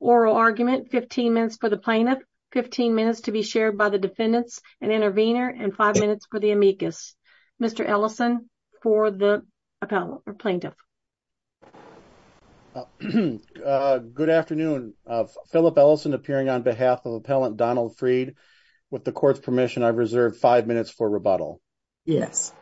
oral argument, 15 minutes for the plaintiff, 15 minutes to be shared by the defendants, an intervener, and five minutes for the amicus. Mr. Ellison for the appellant or plaintiff. Good afternoon. Phillip Ellison appearing on behalf of appellant Donald Freed. With the court's permission, I reserve five minutes for rebuttal. Yes.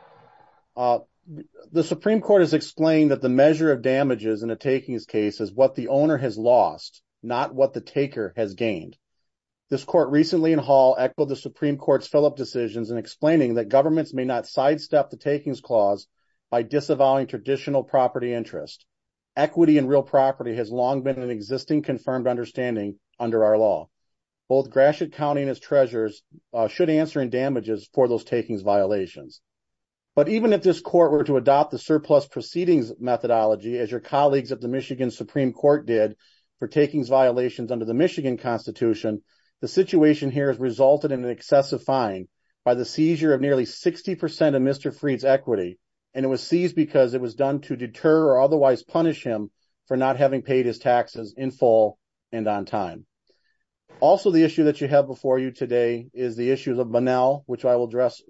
The Supreme Court has explained that the measure of damages in a takings case is what the owner has lost, not what the taker has gained. This court recently in Hall echoed the Supreme Court's Phillip decisions in explaining that governments may not sidestep the takings clause by disavowing traditional property interest. Equity in real property has long been an existing confirmed understanding under our law. Both Gratiot County and its treasurers should answer in damages for those takings violations. But even if this court were to adopt the surplus proceedings methodology as your colleagues at the Michigan Supreme Court did for takings violations under the Michigan Constitution, the situation here has resulted in an excessive fine by the seizure of nearly 60% of Mr. Freed's equity. And it was seized because it was done to deter or otherwise punish him for not having paid his taxes in full and on time. Also, the issue that you have before you today is the issues of banal, which I will address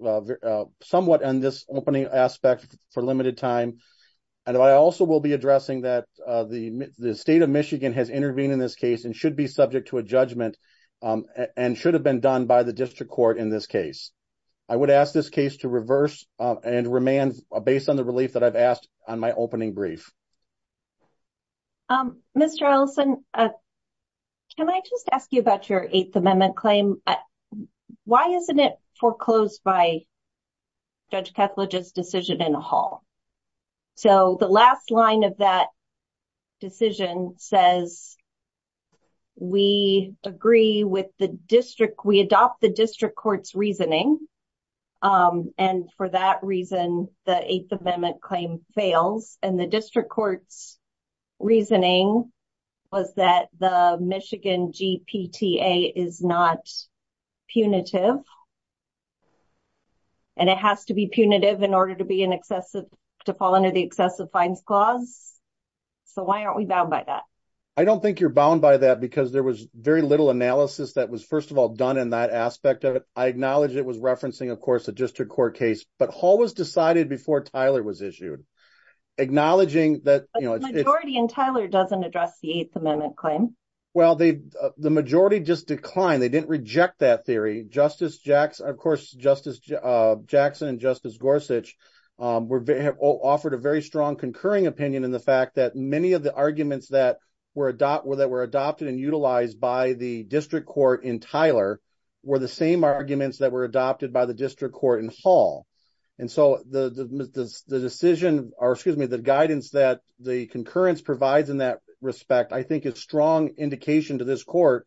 somewhat on this opening aspect for limited time. And I also will be addressing that the state of Michigan has intervened in this case and should be subject to a judgment and should have been done by the district court in this case. I would ask this case to reverse and remand based on the relief that I've asked on my opening brief. Mr. Ellison, can I just ask you about your Eighth Amendment claim? Why isn't it foreclosed by Judge Kethledge's decision in the hall? So the last line of that decision says we agree with the district, we adopt the district court's reasoning. And for that reason, the Eighth Amendment claim fails and the district court's reasoning was that the Michigan GPTA is not punitive. And it has to be punitive in order to fall under the excessive fines clause. So why aren't we bound by that? I don't think you're bound by that because there was very little analysis that was, first of all, done in that aspect of it. I acknowledge it was referencing, of course, a district court case, but Hall was decided before Tyler was issued. A majority in Tyler doesn't address the Eighth Amendment claim. Well, the majority just declined. They didn't reject that theory. Justice Jackson and Justice Gorsuch have offered a very strong concurring opinion in the fact that many of the arguments that were adopted and utilized by the district court in Tyler were the same arguments that were adopted by the district court in Hall. And so the guidance that the concurrence provides in that respect, I think, is a strong indication to this court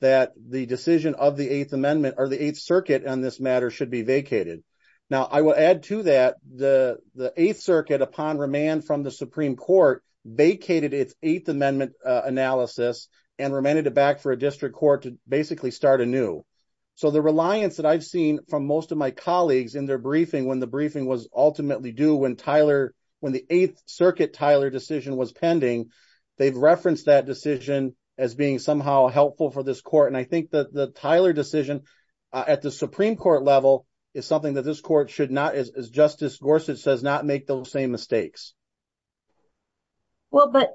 that the decision of the Eighth Amendment or the Eighth Circuit on this matter should be vacated. Now, I will add to that, the Eighth Circuit, upon remand from the Supreme Court, vacated its Eighth Amendment analysis and remanded it back for a district court to basically start anew. So the reliance that I've seen from most of my colleagues in their briefing, when the briefing was ultimately due, when the Eighth Circuit Tyler decision was pending, they've referenced that decision as being somehow helpful for this court. And I think that the Tyler decision at the Supreme Court level is something that this court should not, as Justice Gorsuch says, not make those same mistakes. Well, but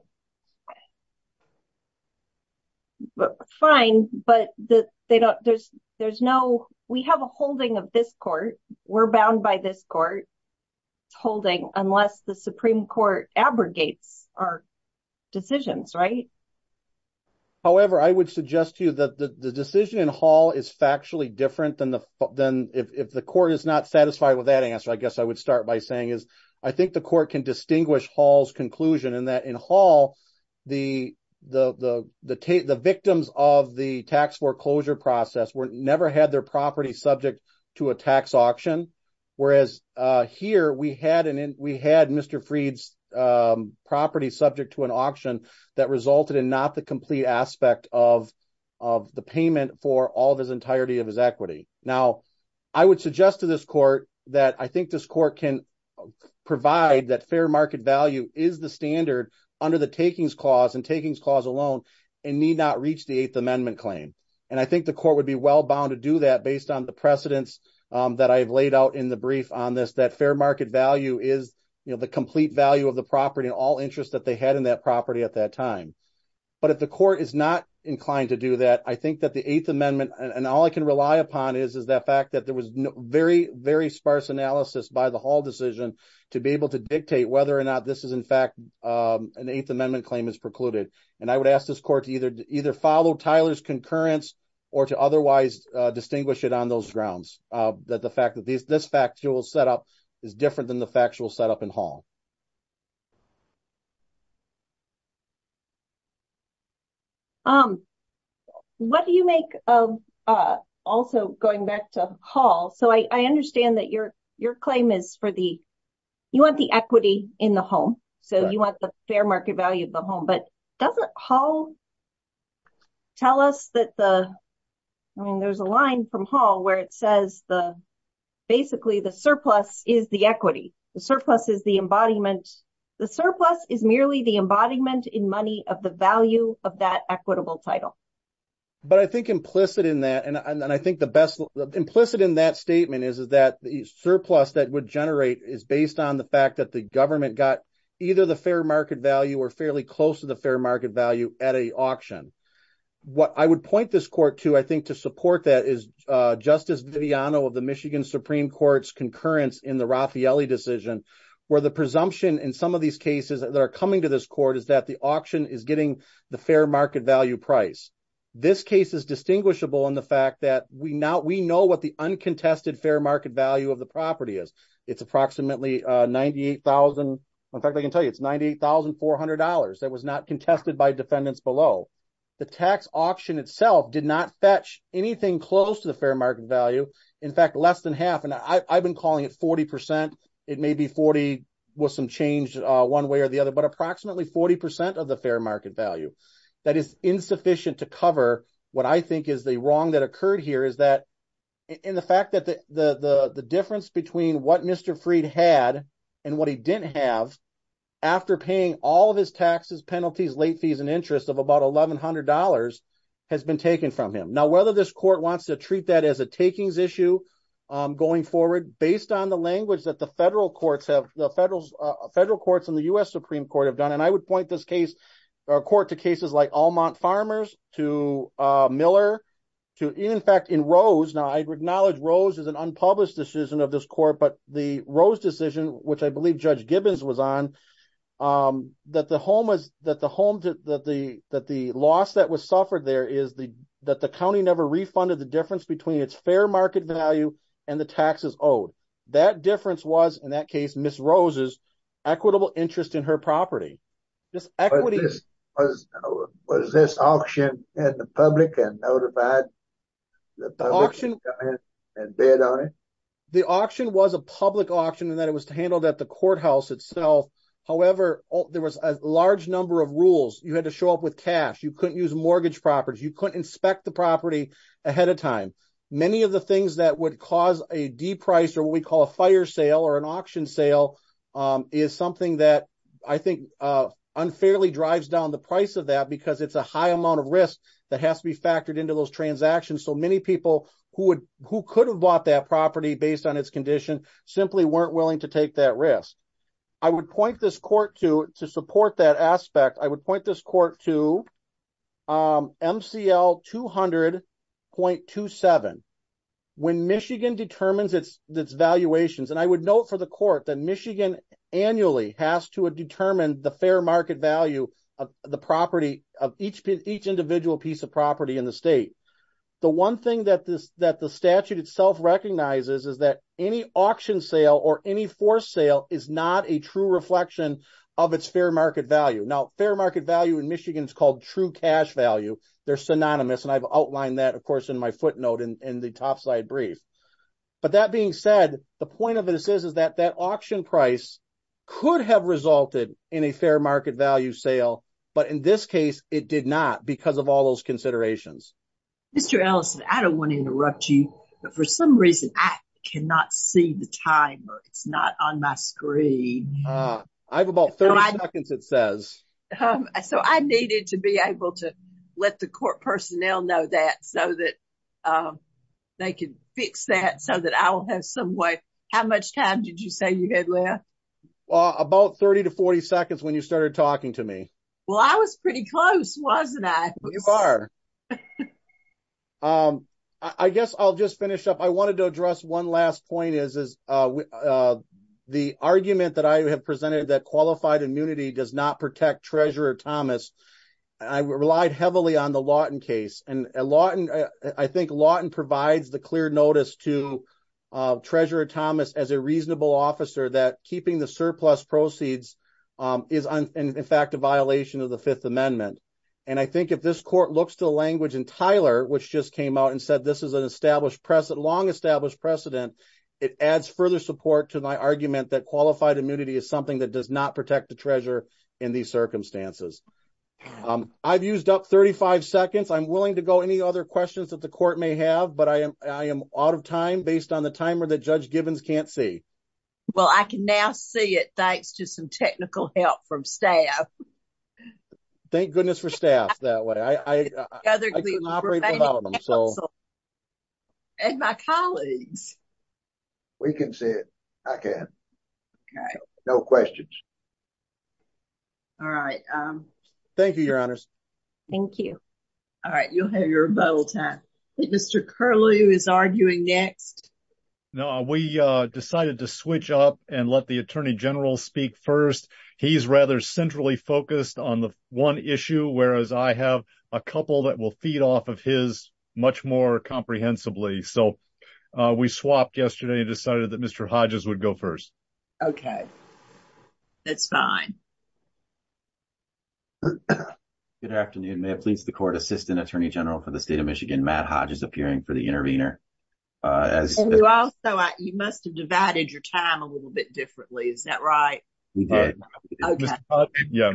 fine, but there's no, we have a holding of this court, we're bound by this court holding unless the Supreme Court abrogates our decisions, right? However, I would suggest to you that the decision in Hall is factually different than if the court is not satisfied with that answer. I guess I would start by saying is, I think the court can distinguish Hall's conclusion in that in Hall, the victims of the tax foreclosure process never had their property subject to a tax auction. Whereas here we had Mr. Freed's property subject to an auction that resulted in not the complete aspect of the payment for all of his entirety of his equity. Now, I would suggest to this court that I think this court can provide that fair market value is the standard under the takings clause and takings clause alone and need not reach the Eighth Amendment claim. And I think the court would be well bound to do that based on the precedence that I've laid out in the brief on this, that fair market value is the complete value of the property and all interest that they had in that property at that time. But if the court is not inclined to do that, I think that the Eighth Amendment, and all I can rely upon is that fact that there was very, very sparse analysis by the Hall decision to be able to dictate whether or not this is in fact an Eighth Amendment claim is precluded. And I would ask this court to either follow Tyler's concurrence or to otherwise distinguish it on those grounds, that the fact that this factual setup is different than the factual setup in Hall. What do you make of also going back to Hall? So I understand that your claim is for the, you want the equity in the home. So you want the fair market value of the home, but doesn't Hall tell us that the, I mean, there's a line from Hall where it says the, basically the surplus is the equity. The surplus is the embodiment. The surplus is merely the embodiment in money of the value of that equitable title. But I think implicit in that, and I think the best, implicit in that statement is that the surplus that would generate is based on the fact that the government got either the fair market value or fairly close to the fair market value at a auction. What I would point this court to, I think to support that is Justice Viviano of the Michigan Supreme Court's concurrence in the Raffaelli decision, where the presumption in some of these cases that are coming to this court is that the auction is getting the fair market value price. This case is distinguishable in the fact that we know what the uncontested fair market value of the property is. It's approximately 98,000. In fact, I can tell you, it's $98,400. That was not contested by defendants below. The tax auction itself did not fetch anything close to the fair market value. In fact, less than half, and I've been calling it 40%. It may be 40 with some change one way or the other, but approximately 40% of the fair market value. That is insufficient to cover what I think is the wrong that occurred here is that in the fact that the difference between what Mr. Freed had and what he didn't have after paying all of his taxes, penalties, late fees, and interest of about $1,100 has been taken from him. Now, whether this court wants to treat that as a takings issue going forward, based on the language that the federal courts and the U.S. Supreme Court have done, and I would point this case or court to cases like Allmont Farmers to Miller to in fact in Rose. Now, I acknowledge Rose is an unpublished decision of this court, but the Rose decision, which I believe Judge Gibbons was on, that the loss that was suffered there is that the county never refunded the difference between its fair market value and the taxes owed. That difference was, in that case, Ms. Rose's equitable interest in her property. Was this auction in the public and notified the public to come in and bid on it? The auction was a public auction in that it was handled at the courthouse itself. However, there was a large number of rules. You had to show up with cash. You couldn't use mortgage properties. You couldn't inspect the property ahead of time. Many of the things that would cause a de-price or what we call a fire sale or an auction sale is something that I think unfairly drives down the price of that because it's a high amount of risk that has to be factored into those transactions. So many people who could have bought that property based on its condition simply weren't willing to take that risk. I would point this court to, to support that aspect, I would point this court to MCL 200.27. When Michigan determines its valuations, and I would note for the court that Michigan annually has to determine the fair market value of the property of each individual piece of property in the state. The one thing that the statute itself recognizes is that any auction sale or any forced sale is not a true reflection of its fair market value. Now, fair market value in Michigan is called true cash value. They're synonymous, and I've outlined that, of course, in my footnote in the top slide brief. But that being said, the point of this is that that auction price could have resulted in a fair market value sale. But in this case, it did not because of all those considerations. Mr. Ellison, I don't want to interrupt you, but for some reason, I cannot see the timer. It's not on my screen. I have about 30 seconds it says. So I needed to be able to let the court personnel know that so that they can fix that so that I'll have some way. How much time did you say you had left? Well, about 30 to 40 seconds when you started talking to me. Well, I was pretty close, wasn't I? You are. I guess I'll just finish up. I wanted to address one last point. The argument that I have presented that qualified immunity does not protect Treasurer Thomas, I relied heavily on the Lawton case. And I think Lawton provides the clear notice to Treasurer Thomas as a reasonable officer that keeping the surplus proceeds is, in fact, a violation of the Fifth Amendment. And I think if this court looks to the language in Tyler, which just came out and said this is a long established precedent, it adds further support to my argument that qualified immunity is something that does not protect the Treasurer in these circumstances. I've used up 35 seconds. I'm willing to go any other questions that the court may have, but I am out of time based on the timer that Judge Givens can't see. Well, I can now see it thanks to some technical help from staff. Thank goodness for staff that way. I can operate without them. And my colleagues. We can see it. I can. Okay. No questions. All right. Thank you, Your Honors. Thank you. All right. You'll have your vote. I think Mr. Curlew is arguing next. No, we decided to switch up and let the Attorney General speak first. He's rather centrally focused on the one issue, whereas I have a couple that will feed off of his much more comprehensibly. So we swapped yesterday and decided that Mr. Hodges would go first. Okay. That's fine. Good afternoon. May it please the Court, Assistant Attorney General for the State of Michigan, Matt Hodges, appearing for the intervener. You must have divided your time a little bit differently. Is that right? We did. Okay. Yeah.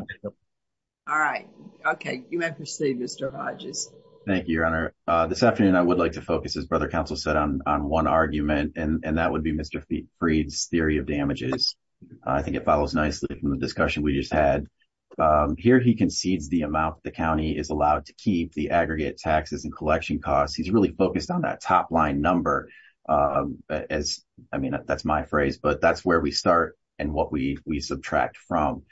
All right. Okay. You may proceed, Mr. Hodges. Thank you, Your Honor. This afternoon I would like to focus, as Brother Counsel said, on one argument, and that would be Mr. Freed's theory of damages. I think it follows nicely from the discussion we just had. Here he concedes the amount the county is allowed to keep, the aggregate taxes and collection costs. He's really focused on that top-line number. I mean, that's my phrase, but that's where we start and what we subtract from.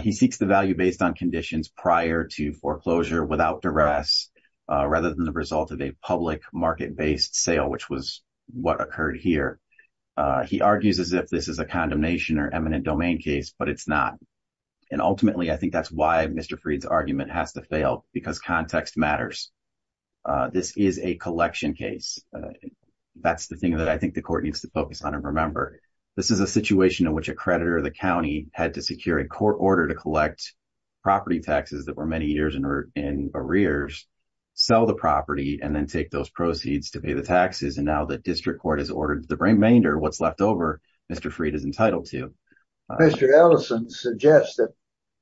He seeks the value based on conditions prior to foreclosure without duress rather than the result of a public market-based sale, which was what occurred here. He argues as if this is a condemnation or eminent domain case, but it's not. And ultimately, I think that's why Mr. Freed's argument has to fail, because context matters. This is a collection case. That's the thing that I think the court needs to focus on and remember. This is a situation in which a creditor of the county had to secure a court order to collect property taxes that were many years in arrears, sell the property, and then take those proceeds to pay the taxes. And now the district court has ordered the remainder, what's left over, Mr. Freed is entitled to. Mr. Ellison suggested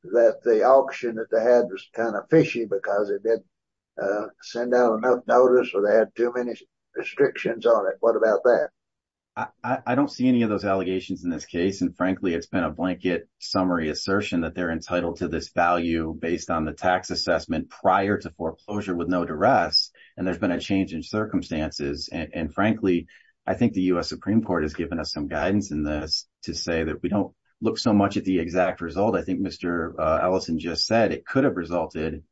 that the auction that they had was kind of fishy because it didn't send out enough notice or they had too many restrictions on it. What about that? I don't see any of those allegations in this case. And frankly, it's been a blanket summary assertion that they're entitled to this value based on the tax assessment prior to foreclosure with no duress. And there's been a change in circumstances. And frankly, I think the U.S. Supreme Court has given us some guidance in this to say that we don't look so much at the exact result. I think Mr. Ellison just said it could have resulted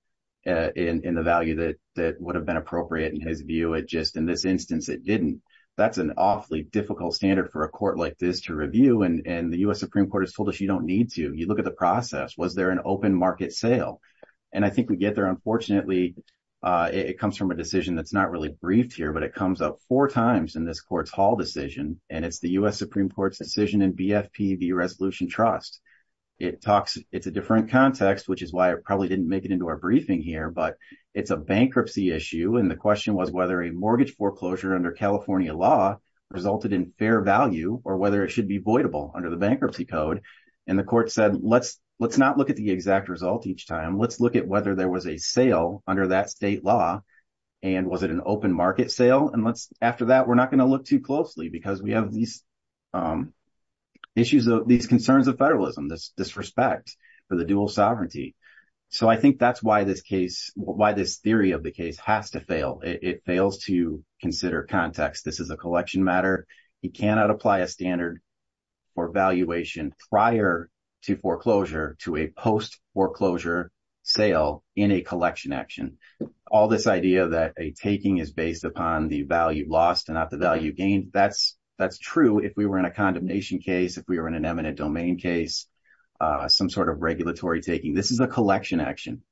in the value that would have been appropriate in his view. Just in this instance, it didn't. That's an awfully difficult standard for a court like this to review. And the U.S. Supreme Court has told us you don't need to. You look at the process. Was there an open market sale? And I think we get there. Unfortunately, it comes from a decision that's not really briefed here, but it comes up four times in this court's hall decision. And it's the U.S. Supreme Court's decision in BFPV Resolution Trust. It talks. It's a different context, which is why I probably didn't make it into our briefing here. But it's a bankruptcy issue. And the question was whether a mortgage foreclosure under California law resulted in fair value or whether it should be voidable under the bankruptcy code. And the court said, let's let's not look at the exact result each time. Let's look at whether there was a sale under that state law. And was it an open market sale? And let's after that, we're not going to look too closely because we have these issues, these concerns of federalism, this disrespect for the dual sovereignty. So I think that's why this case, why this theory of the case has to fail. It fails to consider context. This is a collection matter. You cannot apply a standard for valuation prior to foreclosure to a post foreclosure sale in a collection action. All this idea that a taking is based upon the value lost and not the value gained. That's that's true. If we were in a condemnation case, if we were in an eminent domain case, some sort of regulatory taking. This is a collection action.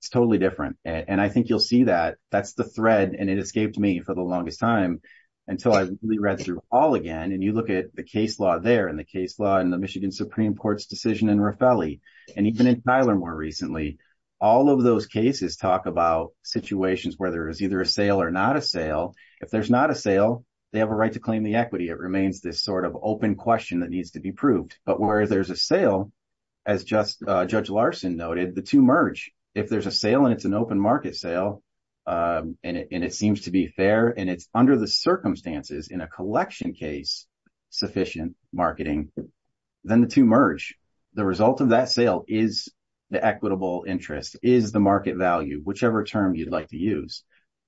It's totally different. And I think you'll see that that's the thread. And it escaped me for the longest time until I read through all again. And you look at the case law there and the case law and the Michigan Supreme Court's decision in Raffelli and even in Tyler more recently. All of those cases talk about situations where there is either a sale or not a sale. If there's not a sale, they have a right to claim the equity. It remains this sort of open question that needs to be proved. But where there's a sale, as just Judge Larson noted, the two merge. If there's a sale and it's an open market sale and it seems to be fair and it's under the circumstances in a collection case sufficient marketing, then the two merge. The result of that sale is the equitable interest is the market value, whichever term you'd like to use.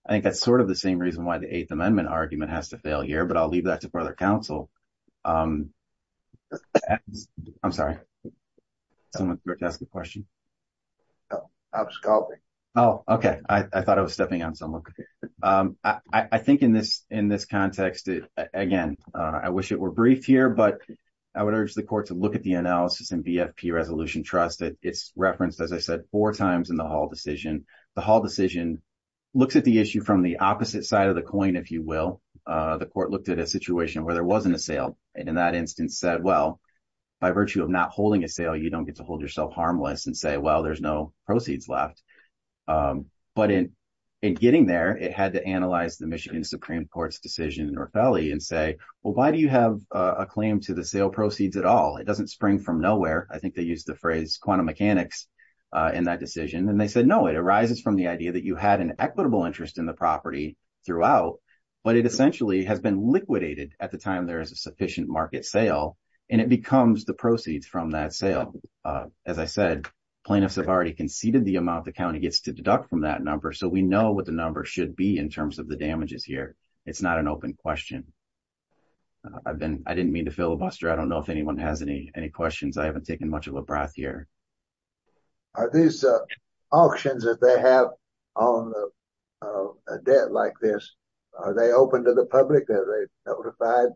I think that's sort of the same reason why the Eighth Amendment argument has to fail here. But I'll leave that to further counsel. I'm sorry. Someone asked the question. Oh, OK. I thought I was stepping on someone. I think in this in this context, again, I wish it were brief here, but I would urge the court to look at the analysis and BFP Resolution Trust. It's referenced, as I said, four times in the whole decision. The whole decision looks at the issue from the opposite side of the coin, if you will. The court looked at a situation where there wasn't a sale. And in that instance said, well, by virtue of not holding a sale, you don't get to hold yourself harmless and say, well, there's no proceeds left. But in in getting there, it had to analyze the Michigan Supreme Court's decision in North Valley and say, well, why do you have a claim to the sale proceeds at all? It doesn't spring from nowhere. I think they use the phrase quantum mechanics in that decision. And they said, no, it arises from the idea that you had an equitable interest in the property throughout. But it essentially has been liquidated at the time there is a sufficient market sale and it becomes the proceeds from that sale. As I said, plaintiffs have already conceded the amount the county gets to deduct from that number. So we know what the number should be in terms of the damages here. It's not an open question. I've been I didn't mean to filibuster. I don't know if anyone has any any questions. I haven't taken much of a breath here. Are these auctions that they have on a debt like this, are they open to the public? Are they notified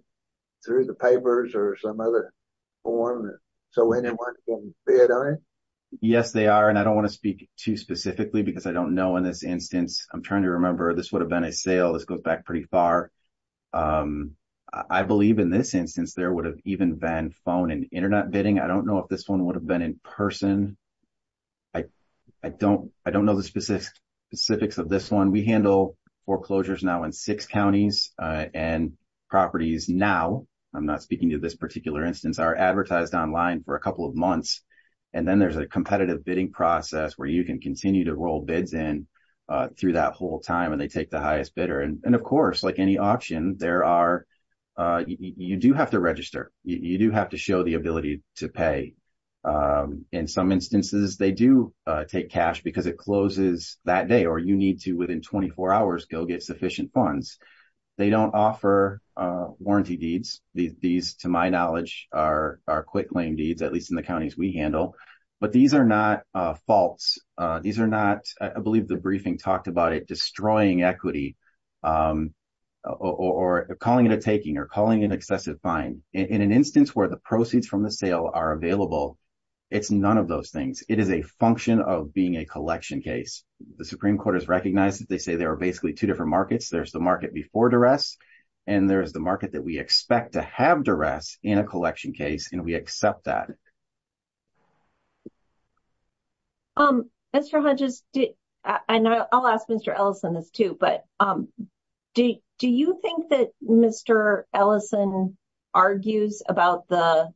through the papers or some other form so anyone can bid on it? Yes, they are. And I don't want to speak too specifically because I don't know in this instance. I'm trying to remember. This would have been a sale. This goes back pretty far. I believe in this instance there would have even been phone and Internet bidding. I don't know if this one would have been in person. I don't I don't know the specifics of this one. We handle foreclosures now in six counties and properties. Now, I'm not speaking to this particular instance are advertised online for a couple of months. And then there's a competitive bidding process where you can continue to roll bids in through that whole time and they take the highest bidder. And of course, like any option, there are you do have to register. You do have to show the ability to pay. In some instances, they do take cash because it closes that day or you need to, within 24 hours, go get sufficient funds. They don't offer warranty deeds. These, to my knowledge, are our quick claim deeds, at least in the counties we handle. But these are not faults. These are not. I believe the briefing talked about it destroying equity or calling it a taking or calling an excessive fine in an instance where the proceeds from the sale are available. It's none of those things. It is a function of being a collection case. The Supreme Court has recognized that they say there are basically two different markets. There's the market before duress and there is the market that we expect to have duress in a collection case. And we accept that. Mr. Hodges, I know I'll ask Mr. Ellison this too, but do you think that Mr. Ellison argues about the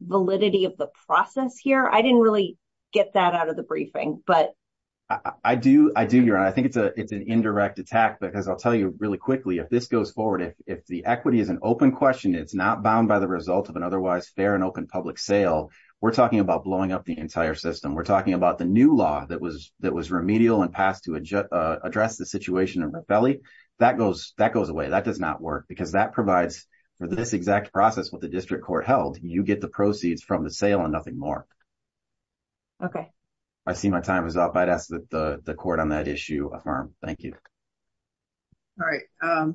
validity of the process here? I didn't really get that out of the briefing, but. I do. I do. I think it's an indirect attack because I'll tell you really quickly, if this goes forward, if the equity is an open question, it's not bound by the result of an otherwise fair and open public sale. We're talking about blowing up the entire system. We're talking about the new law that was remedial and passed to address the situation in Red Belly. That goes away. That does not work because that provides for this exact process with the district court held. You get the proceeds from the sale and nothing more. OK, I see my time is up. I'd ask that the court on that issue affirm. Thank you. All right,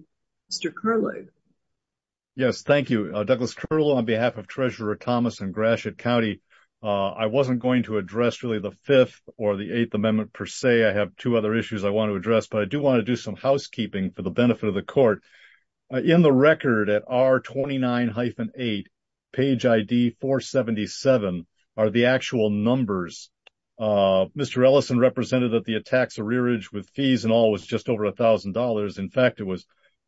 Mr. Curley. Yes, thank you, Douglas. On behalf of Treasurer Thomas and Gratiot County, I wasn't going to address really the 5th or the 8th Amendment per se. I have two other issues I want to address, but I do want to do some housekeeping for the benefit of the court. In the record at R29-8, page ID 477 are the actual numbers. Mr. Ellison represented that the attacks of rearage with fees and all was just over $1,000. In fact, it was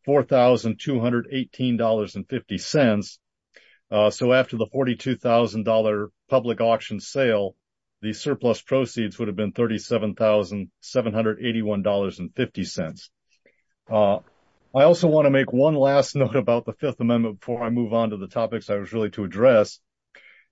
$4,218.50. So after the $42,000 public auction sale, the surplus proceeds would have been $37,781.50. I also want to make one last note about the 5th Amendment before I move on to the topics I was really to address.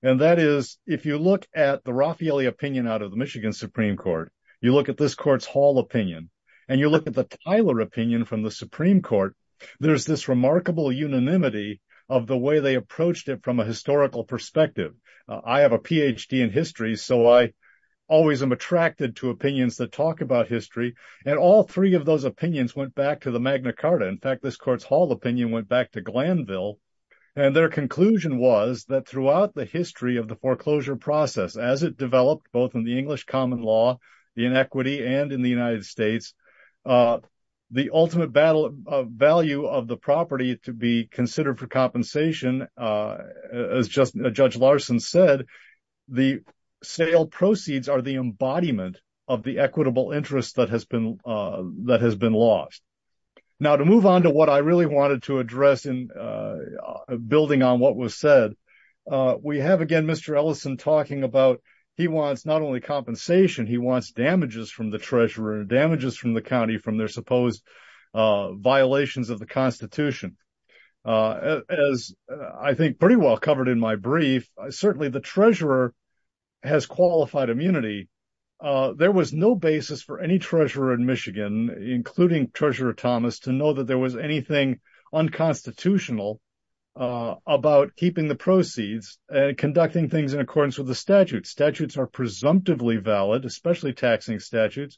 And that is, if you look at the Raffaelli opinion out of the Michigan Supreme Court, you look at this court's Hall opinion and you look at the Tyler opinion from the Supreme Court. There's this remarkable unanimity of the way they approached it from a historical perspective. I have a Ph.D. in history, so I always am attracted to opinions that talk about history. And all three of those opinions went back to the Magna Carta. In fact, this court's Hall opinion went back to Glanville. And their conclusion was that throughout the history of the foreclosure process, as it developed both in the English common law, the inequity, and in the United States, the ultimate value of the property to be considered for compensation, as Judge Larson said, the sale proceeds are the embodiment of the equitable interest that has been lost. Now, to move on to what I really wanted to address in building on what was said, we have, again, Mr. Ellison talking about he wants not only compensation, he wants damages from the treasurer, damages from the county from their supposed violations of the Constitution. As I think pretty well covered in my brief, certainly the treasurer has qualified immunity. There was no basis for any treasurer in Michigan, including Treasurer Thomas, to know that there was anything unconstitutional about keeping the proceeds and conducting things in accordance with the statute. Statutes are presumptively valid, especially taxing statutes.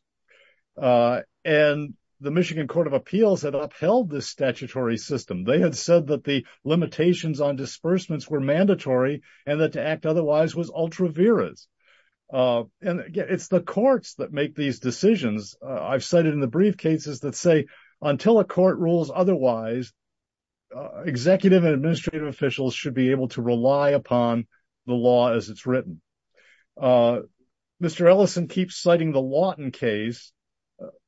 And the Michigan Court of Appeals had upheld this statutory system. They had said that the limitations on disbursements were mandatory and that to act otherwise was ultra viris. And again, it's the courts that make these decisions. I've cited in the brief cases that say until a court rules otherwise, executive and administrative officials should be able to rely upon the law as it's written. Mr. Ellison keeps citing the Lawton case.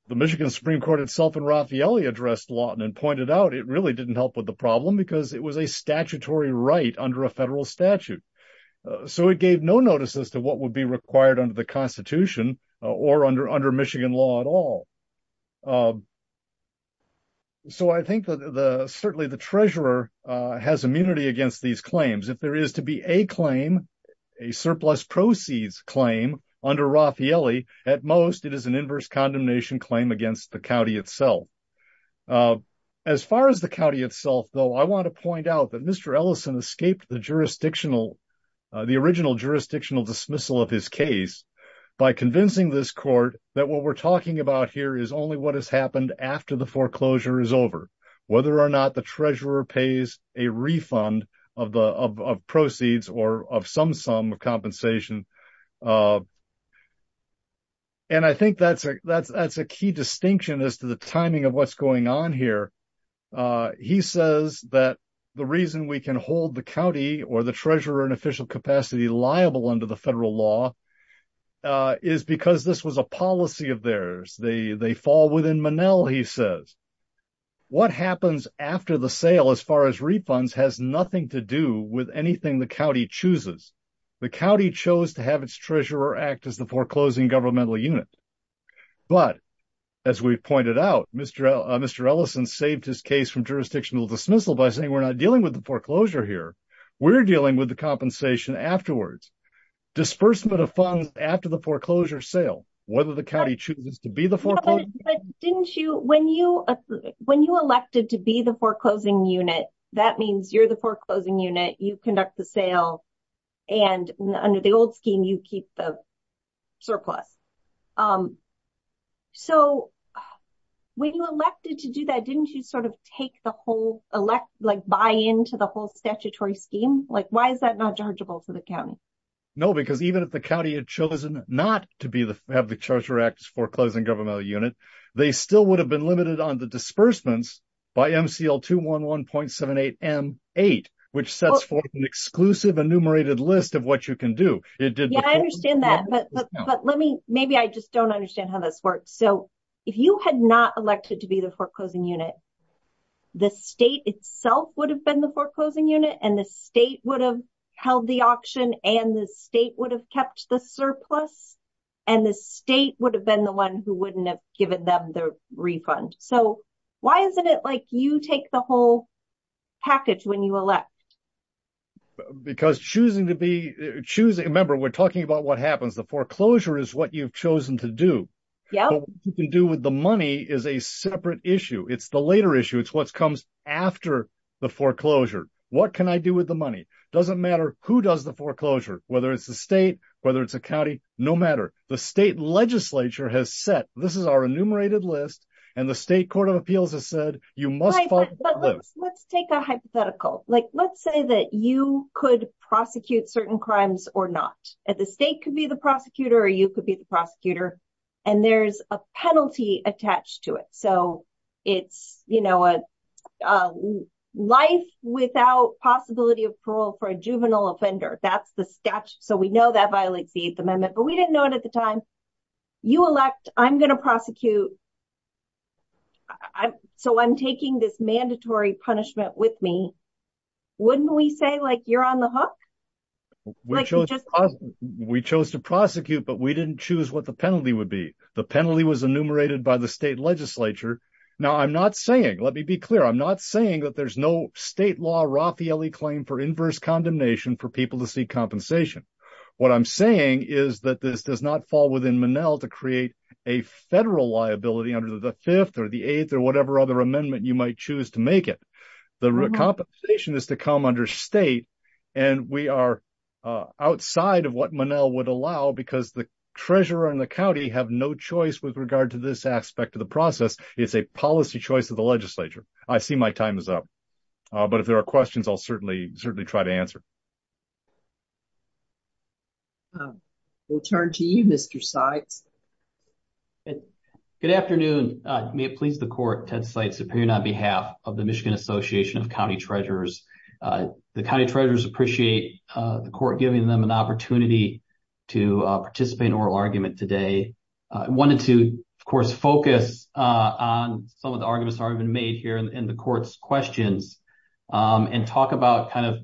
The Michigan Supreme Court itself and Raffaele addressed Lawton and pointed out it really didn't help with the problem because it was a statutory right under a federal statute. So it gave no notice as to what would be required under the Constitution or under Michigan law at all. So I think that certainly the treasurer has immunity against these claims. If there is to be a claim, a surplus proceeds claim under Raffaele, at most it is an inverse condemnation claim against the county itself. As far as the county itself, though, I want to point out that Mr. Ellison escaped the original jurisdictional dismissal of his case by convincing this court that what we're talking about here is only what has happened after the foreclosure is over, whether or not the treasurer pays a refund of proceeds or of some sum of compensation. And I think that's a key distinction as to the timing of what's going on here. He says that the reason we can hold the county or the treasurer in official capacity liable under the federal law is because this was a policy of theirs. They fall within Manel, he says. What happens after the sale, as far as refunds, has nothing to do with anything the county chooses. The county chose to have its treasurer act as the foreclosing governmental unit. But as we pointed out, Mr. Ellison saved his case from jurisdictional dismissal by saying we're not dealing with the foreclosure here. We're dealing with the compensation afterwards. Disbursement of funds after the foreclosure sale, whether the county chooses to be the foreclosure. Didn't you when you when you elected to be the foreclosing unit, that means you're the foreclosing unit. You conduct the sale and under the old scheme, you keep the surplus. So when you elected to do that, didn't you sort of take the whole elect like buy into the whole statutory scheme? Like, why is that not chargeable to the county? No, because even if the county had chosen not to have the treasurer act as foreclosing governmental unit, they still would have been limited on the disbursements by MCL 211.78 M8, which sets forth an exclusive enumerated list of what you can do. I understand that. But let me maybe I just don't understand how this works. So if you had not elected to be the foreclosing unit. The state itself would have been the foreclosing unit and the state would have held the auction and the state would have kept the surplus. And the state would have been the one who wouldn't have given them the refund. So why isn't it like you take the whole package when you elect? Because choosing to be choosing a member, we're talking about what happens. The foreclosure is what you've chosen to do. You can do with the money is a separate issue. It's the later issue. It's what comes after the foreclosure. What can I do with the money? Doesn't matter who does the foreclosure, whether it's the state, whether it's a county, no matter. The state legislature has set. This is our enumerated list. And the state court of appeals has said you must. Let's take a hypothetical. Like, let's say that you could prosecute certain crimes or not. At the state could be the prosecutor or you could be the prosecutor and there's a penalty attached to it. So it's a life without possibility of parole for a juvenile offender. That's the statute. So we know that violates the 8th Amendment, but we didn't know it at the time. You elect. I'm going to prosecute. So I'm taking this mandatory punishment with me. Wouldn't we say, like, you're on the hook, which we chose to prosecute, but we didn't choose what the penalty would be. The penalty was enumerated by the state legislature. Now, I'm not saying let me be clear. I'm not saying that there's no state law. Raffaele claim for inverse condemnation for people to seek compensation. What I'm saying is that this does not fall within Manel to create a federal liability under the fifth or the eighth or whatever other amendment you might choose to make it. The compensation is to come under state and we are outside of what Manel would allow, because the treasurer and the county have no choice with regard to this aspect of the process. It's a policy choice of the legislature. I see my time is up. But if there are questions, I'll certainly certainly try to answer. We'll turn to you, Mr. Seitz. Good afternoon. May it please the court, Ted Seitz, appearing on behalf of the Michigan Association of County Treasurers. The county treasurers appreciate the court giving them an opportunity to participate in oral argument today. I wanted to, of course, focus on some of the arguments that have been made here in the court's questions and talk about kind of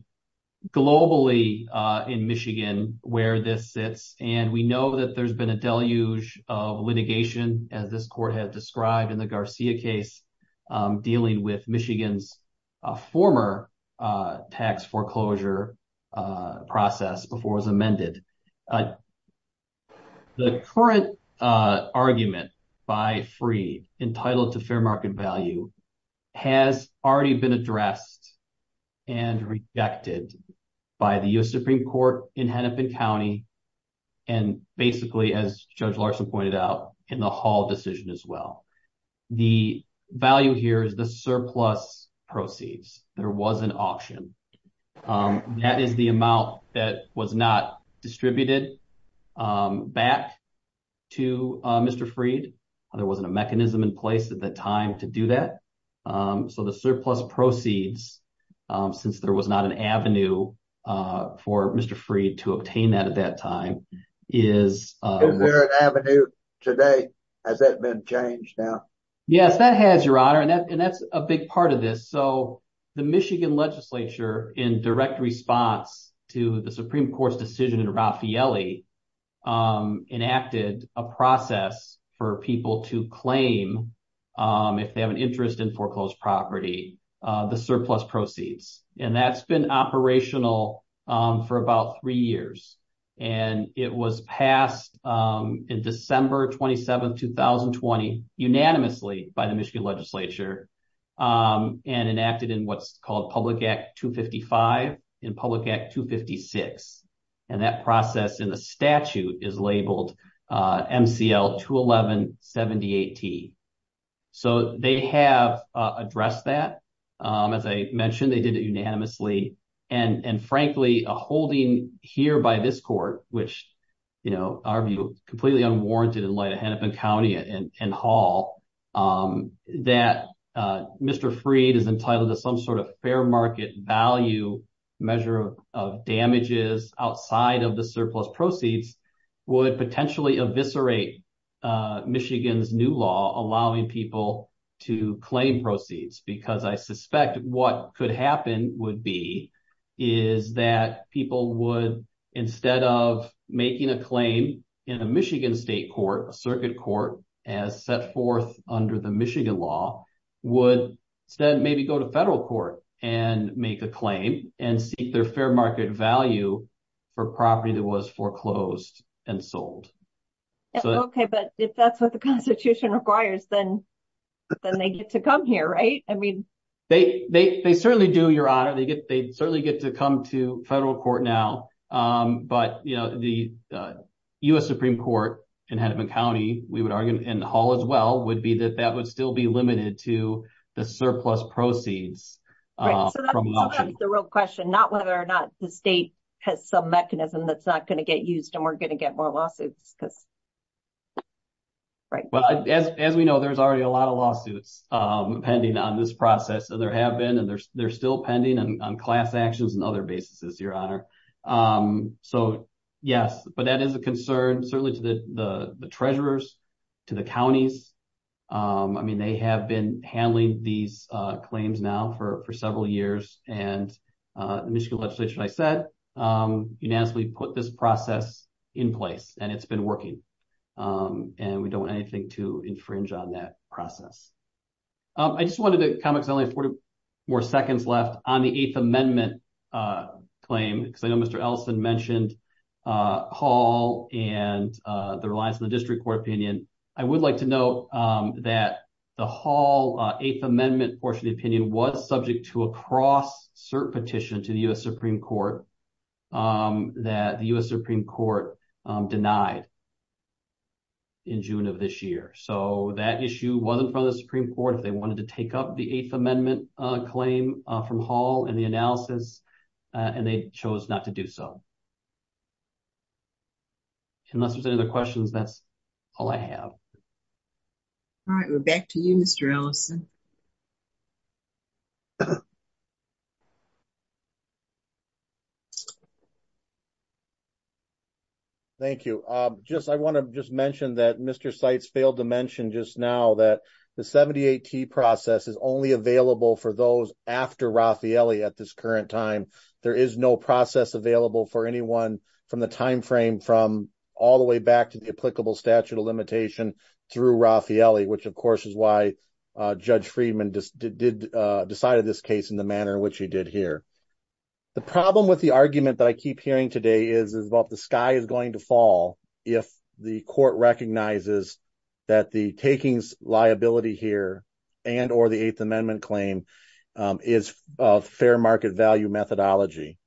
globally in Michigan where this sits. And we know that there's been a deluge of litigation, as this court had described in the Garcia case dealing with Michigan's former tax foreclosure process before it was amended. The current argument by free entitled to fair market value has already been addressed and rejected by the U.S. Supreme Court in Hennepin County. And basically, as Judge Larson pointed out in the Hall decision as well, the value here is the surplus proceeds. There was an option. That is the amount that was not distributed back to Mr. Freed. There wasn't a mechanism in place at that time to do that. So the surplus proceeds, since there was not an avenue for Mr. Freed to obtain that at that time, is there an avenue today? Has that been changed now? Yes, that has, Your Honor. And that's a big part of this. So the Michigan legislature, in direct response to the Supreme Court's decision in Raffaelli, enacted a process for people to claim, if they have an interest in foreclosed property, the surplus proceeds. And that's been operational for about three years. And it was passed in December 27, 2020, unanimously by the Michigan legislature. And enacted in what's called Public Act 255 and Public Act 256. And that process in the statute is labeled MCL-211-78T. So they have addressed that. As I mentioned, they did it unanimously. And frankly, a holding here by this court, which, you know, our view, completely unwarranted in light of Hennepin County and Hall, that Mr. Freed is entitled to some sort of fair market value measure of damages outside of the surplus proceeds, would potentially eviscerate Michigan's new law, allowing people to claim proceeds. Because I suspect what could happen would be, is that people would, instead of making a claim in a Michigan state court, a circuit court, as set forth under the Michigan law, would instead maybe go to federal court and make a claim and seek their fair market value for property that was foreclosed and sold. Okay, but if that's what the Constitution requires, then they get to come here, right? They certainly do, Your Honor. They certainly get to come to federal court now. But, you know, the U.S. Supreme Court in Hennepin County, we would argue, and Hall as well, would be that that would still be limited to the surplus proceeds. So that's the real question, not whether or not the state has some mechanism that's not going to get used and we're going to get more lawsuits. As we know, there's already a lot of lawsuits pending on this process, and there have been, and they're still pending on class actions and other basis, Your Honor. So, yes, but that is a concern, certainly to the treasurers, to the counties. I mean, they have been handling these claims now for several years. And the Michigan legislature, as I said, unanimously put this process in place, and it's been working. And we don't want anything to infringe on that process. I just wanted to comment, because I only have 40 more seconds left, on the Eighth Amendment claim, because I know Mr. Ellison mentioned Hall and the reliance on the district court opinion. And I would like to note that the Hall Eighth Amendment portion of the opinion was subject to a cross-cert petition to the U.S. Supreme Court that the U.S. Supreme Court denied in June of this year. So that issue wasn't from the Supreme Court if they wanted to take up the Eighth Amendment claim from Hall and the analysis, and they chose not to do so. Unless there's any other questions, that's all I have. All right, we're back to you, Mr. Ellison. Thank you. Just, I want to just mention that Mr. Seitz failed to mention just now that the 78T process is only available for those after Raffaelli at this current time. There is no process available for anyone from the timeframe from all the way back to the applicable statute of limitation through Raffaelli, which of course is why Judge Friedman decided this case in the manner in which he did here. The problem with the argument that I keep hearing today is about the sky is going to fall if the court recognizes that the takings liability here and or the Eighth Amendment claim is fair market value methodology.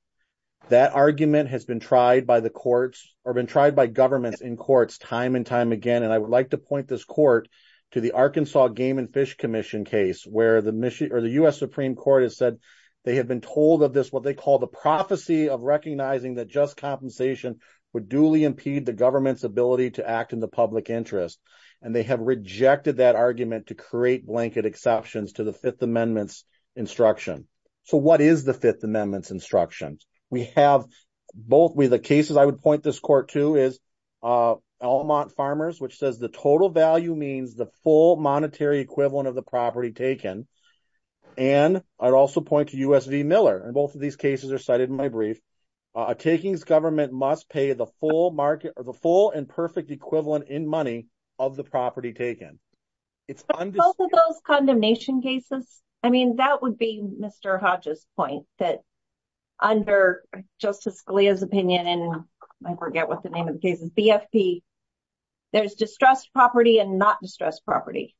That argument has been tried by the courts or been tried by governments in courts time and time again. And I would like to point this court to the Arkansas Game and Fish Commission case where the U.S. Supreme Court has said they have been told of this what they call the prophecy of recognizing that just compensation would duly impede the government's ability to act in the public interest. And they have rejected that argument to create blanket exceptions to the Fifth Amendment's instruction. So what is the Fifth Amendment's instruction? We have both with the cases I would point this court to is Alamont Farmers, which says the total value means the full monetary equivalent of the property taken. And I'd also point to U.S.V. Miller and both of these cases are cited in my brief. A takings government must pay the full market or the full and perfect equivalent in money of the property taken. But both of those condemnation cases, I mean, that would be Mr. Hodge's point that under Justice Scalia's opinion and I forget what the name of the case is, BFP, there's distressed property and not distressed property.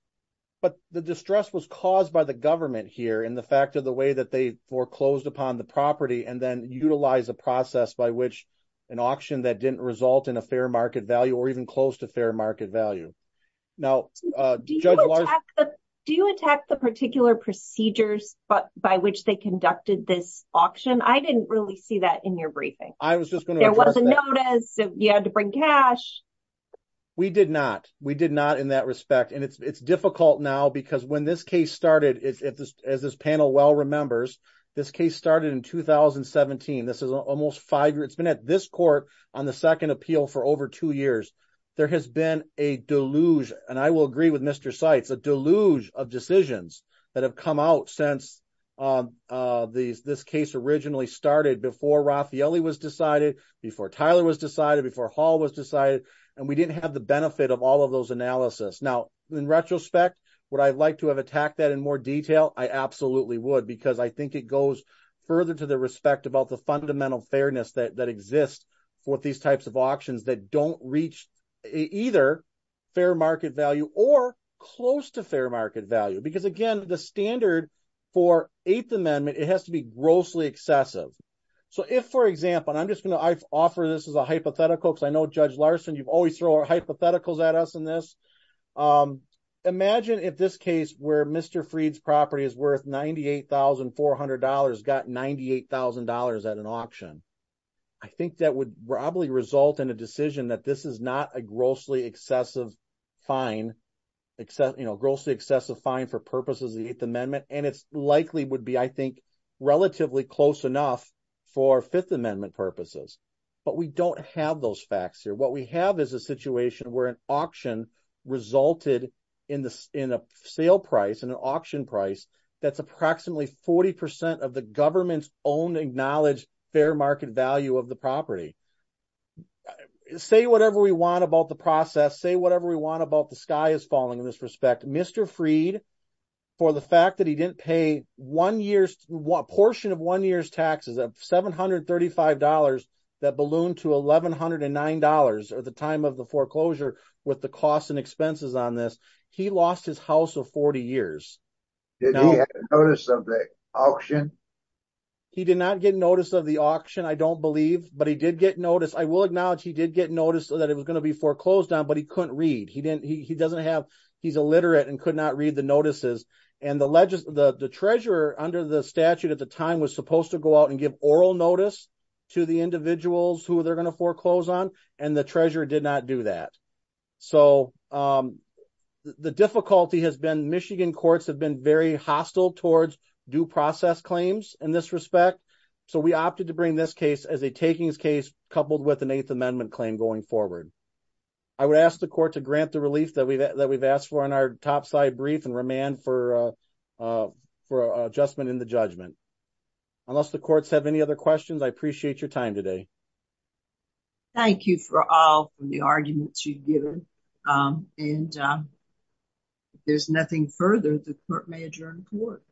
But the distress was caused by the government here in the fact of the way that they foreclosed upon the property and then utilize a process by which an auction that didn't result in a fair market value or even close to fair market value. Do you attack the particular procedures by which they conducted this auction? I didn't really see that in your briefing. I was just going to address that. There was a notice, you had to bring cash. We did not. We did not in that respect. And it's difficult now because when this case started, as this panel well remembers, this case started in 2017. This is almost five years. It's been at this court on the second appeal for over two years. There has been a deluge, and I will agree with Mr. Seitz, a deluge of decisions that have come out since this case originally started before Raffaelli was decided, before Tyler was decided, before Hall was decided. And we didn't have the benefit of all of those analysis. Now, in retrospect, would I like to have attacked that in more detail? I absolutely would because I think it goes further to the respect about the fundamental fairness that exists for these types of auctions that don't reach either fair market value or close to fair market value. Because, again, the standard for Eighth Amendment, it has to be grossly excessive. So if, for example, and I'm just going to offer this as a hypothetical because I know, Judge Larson, you always throw our hypotheticals at us in this. Imagine if this case where Mr. Freed's property is worth $98,400 got $98,000 at an auction. I think that would probably result in a decision that this is not a grossly excessive fine for purposes of the Eighth Amendment, and it likely would be, I think, relatively close enough for Fifth Amendment purposes. But we don't have those facts here. What we have is a situation where an auction resulted in a sale price and an auction price that's approximately 40% of the government's own acknowledged fair market value of the property. Say whatever we want about the process. Say whatever we want about the sky is falling in this respect. Mr. Freed, for the fact that he didn't pay a portion of one year's taxes of $735 that ballooned to $1,109 at the time of the foreclosure with the costs and expenses on this, he lost his house of 40 years. Did he get notice of the auction? He did not get notice of the auction, I don't believe. But he did get notice. I will acknowledge he did get notice that it was going to be foreclosed on, but he couldn't read. He doesn't have, he's illiterate and could not read the notices. And the treasurer under the statute at the time was supposed to go out and give oral notice to the individuals who they're going to foreclose on, and the treasurer did not do that. So, the difficulty has been Michigan courts have been very hostile towards due process claims in this respect. So we opted to bring this case as a takings case coupled with an Eighth Amendment claim going forward. I would ask the court to grant the relief that we've asked for in our topside brief and remand for adjustment in the judgment. Unless the courts have any other questions, I appreciate your time today. Thank you for all the arguments you've given. And if there's nothing further, the court may adjourn the court.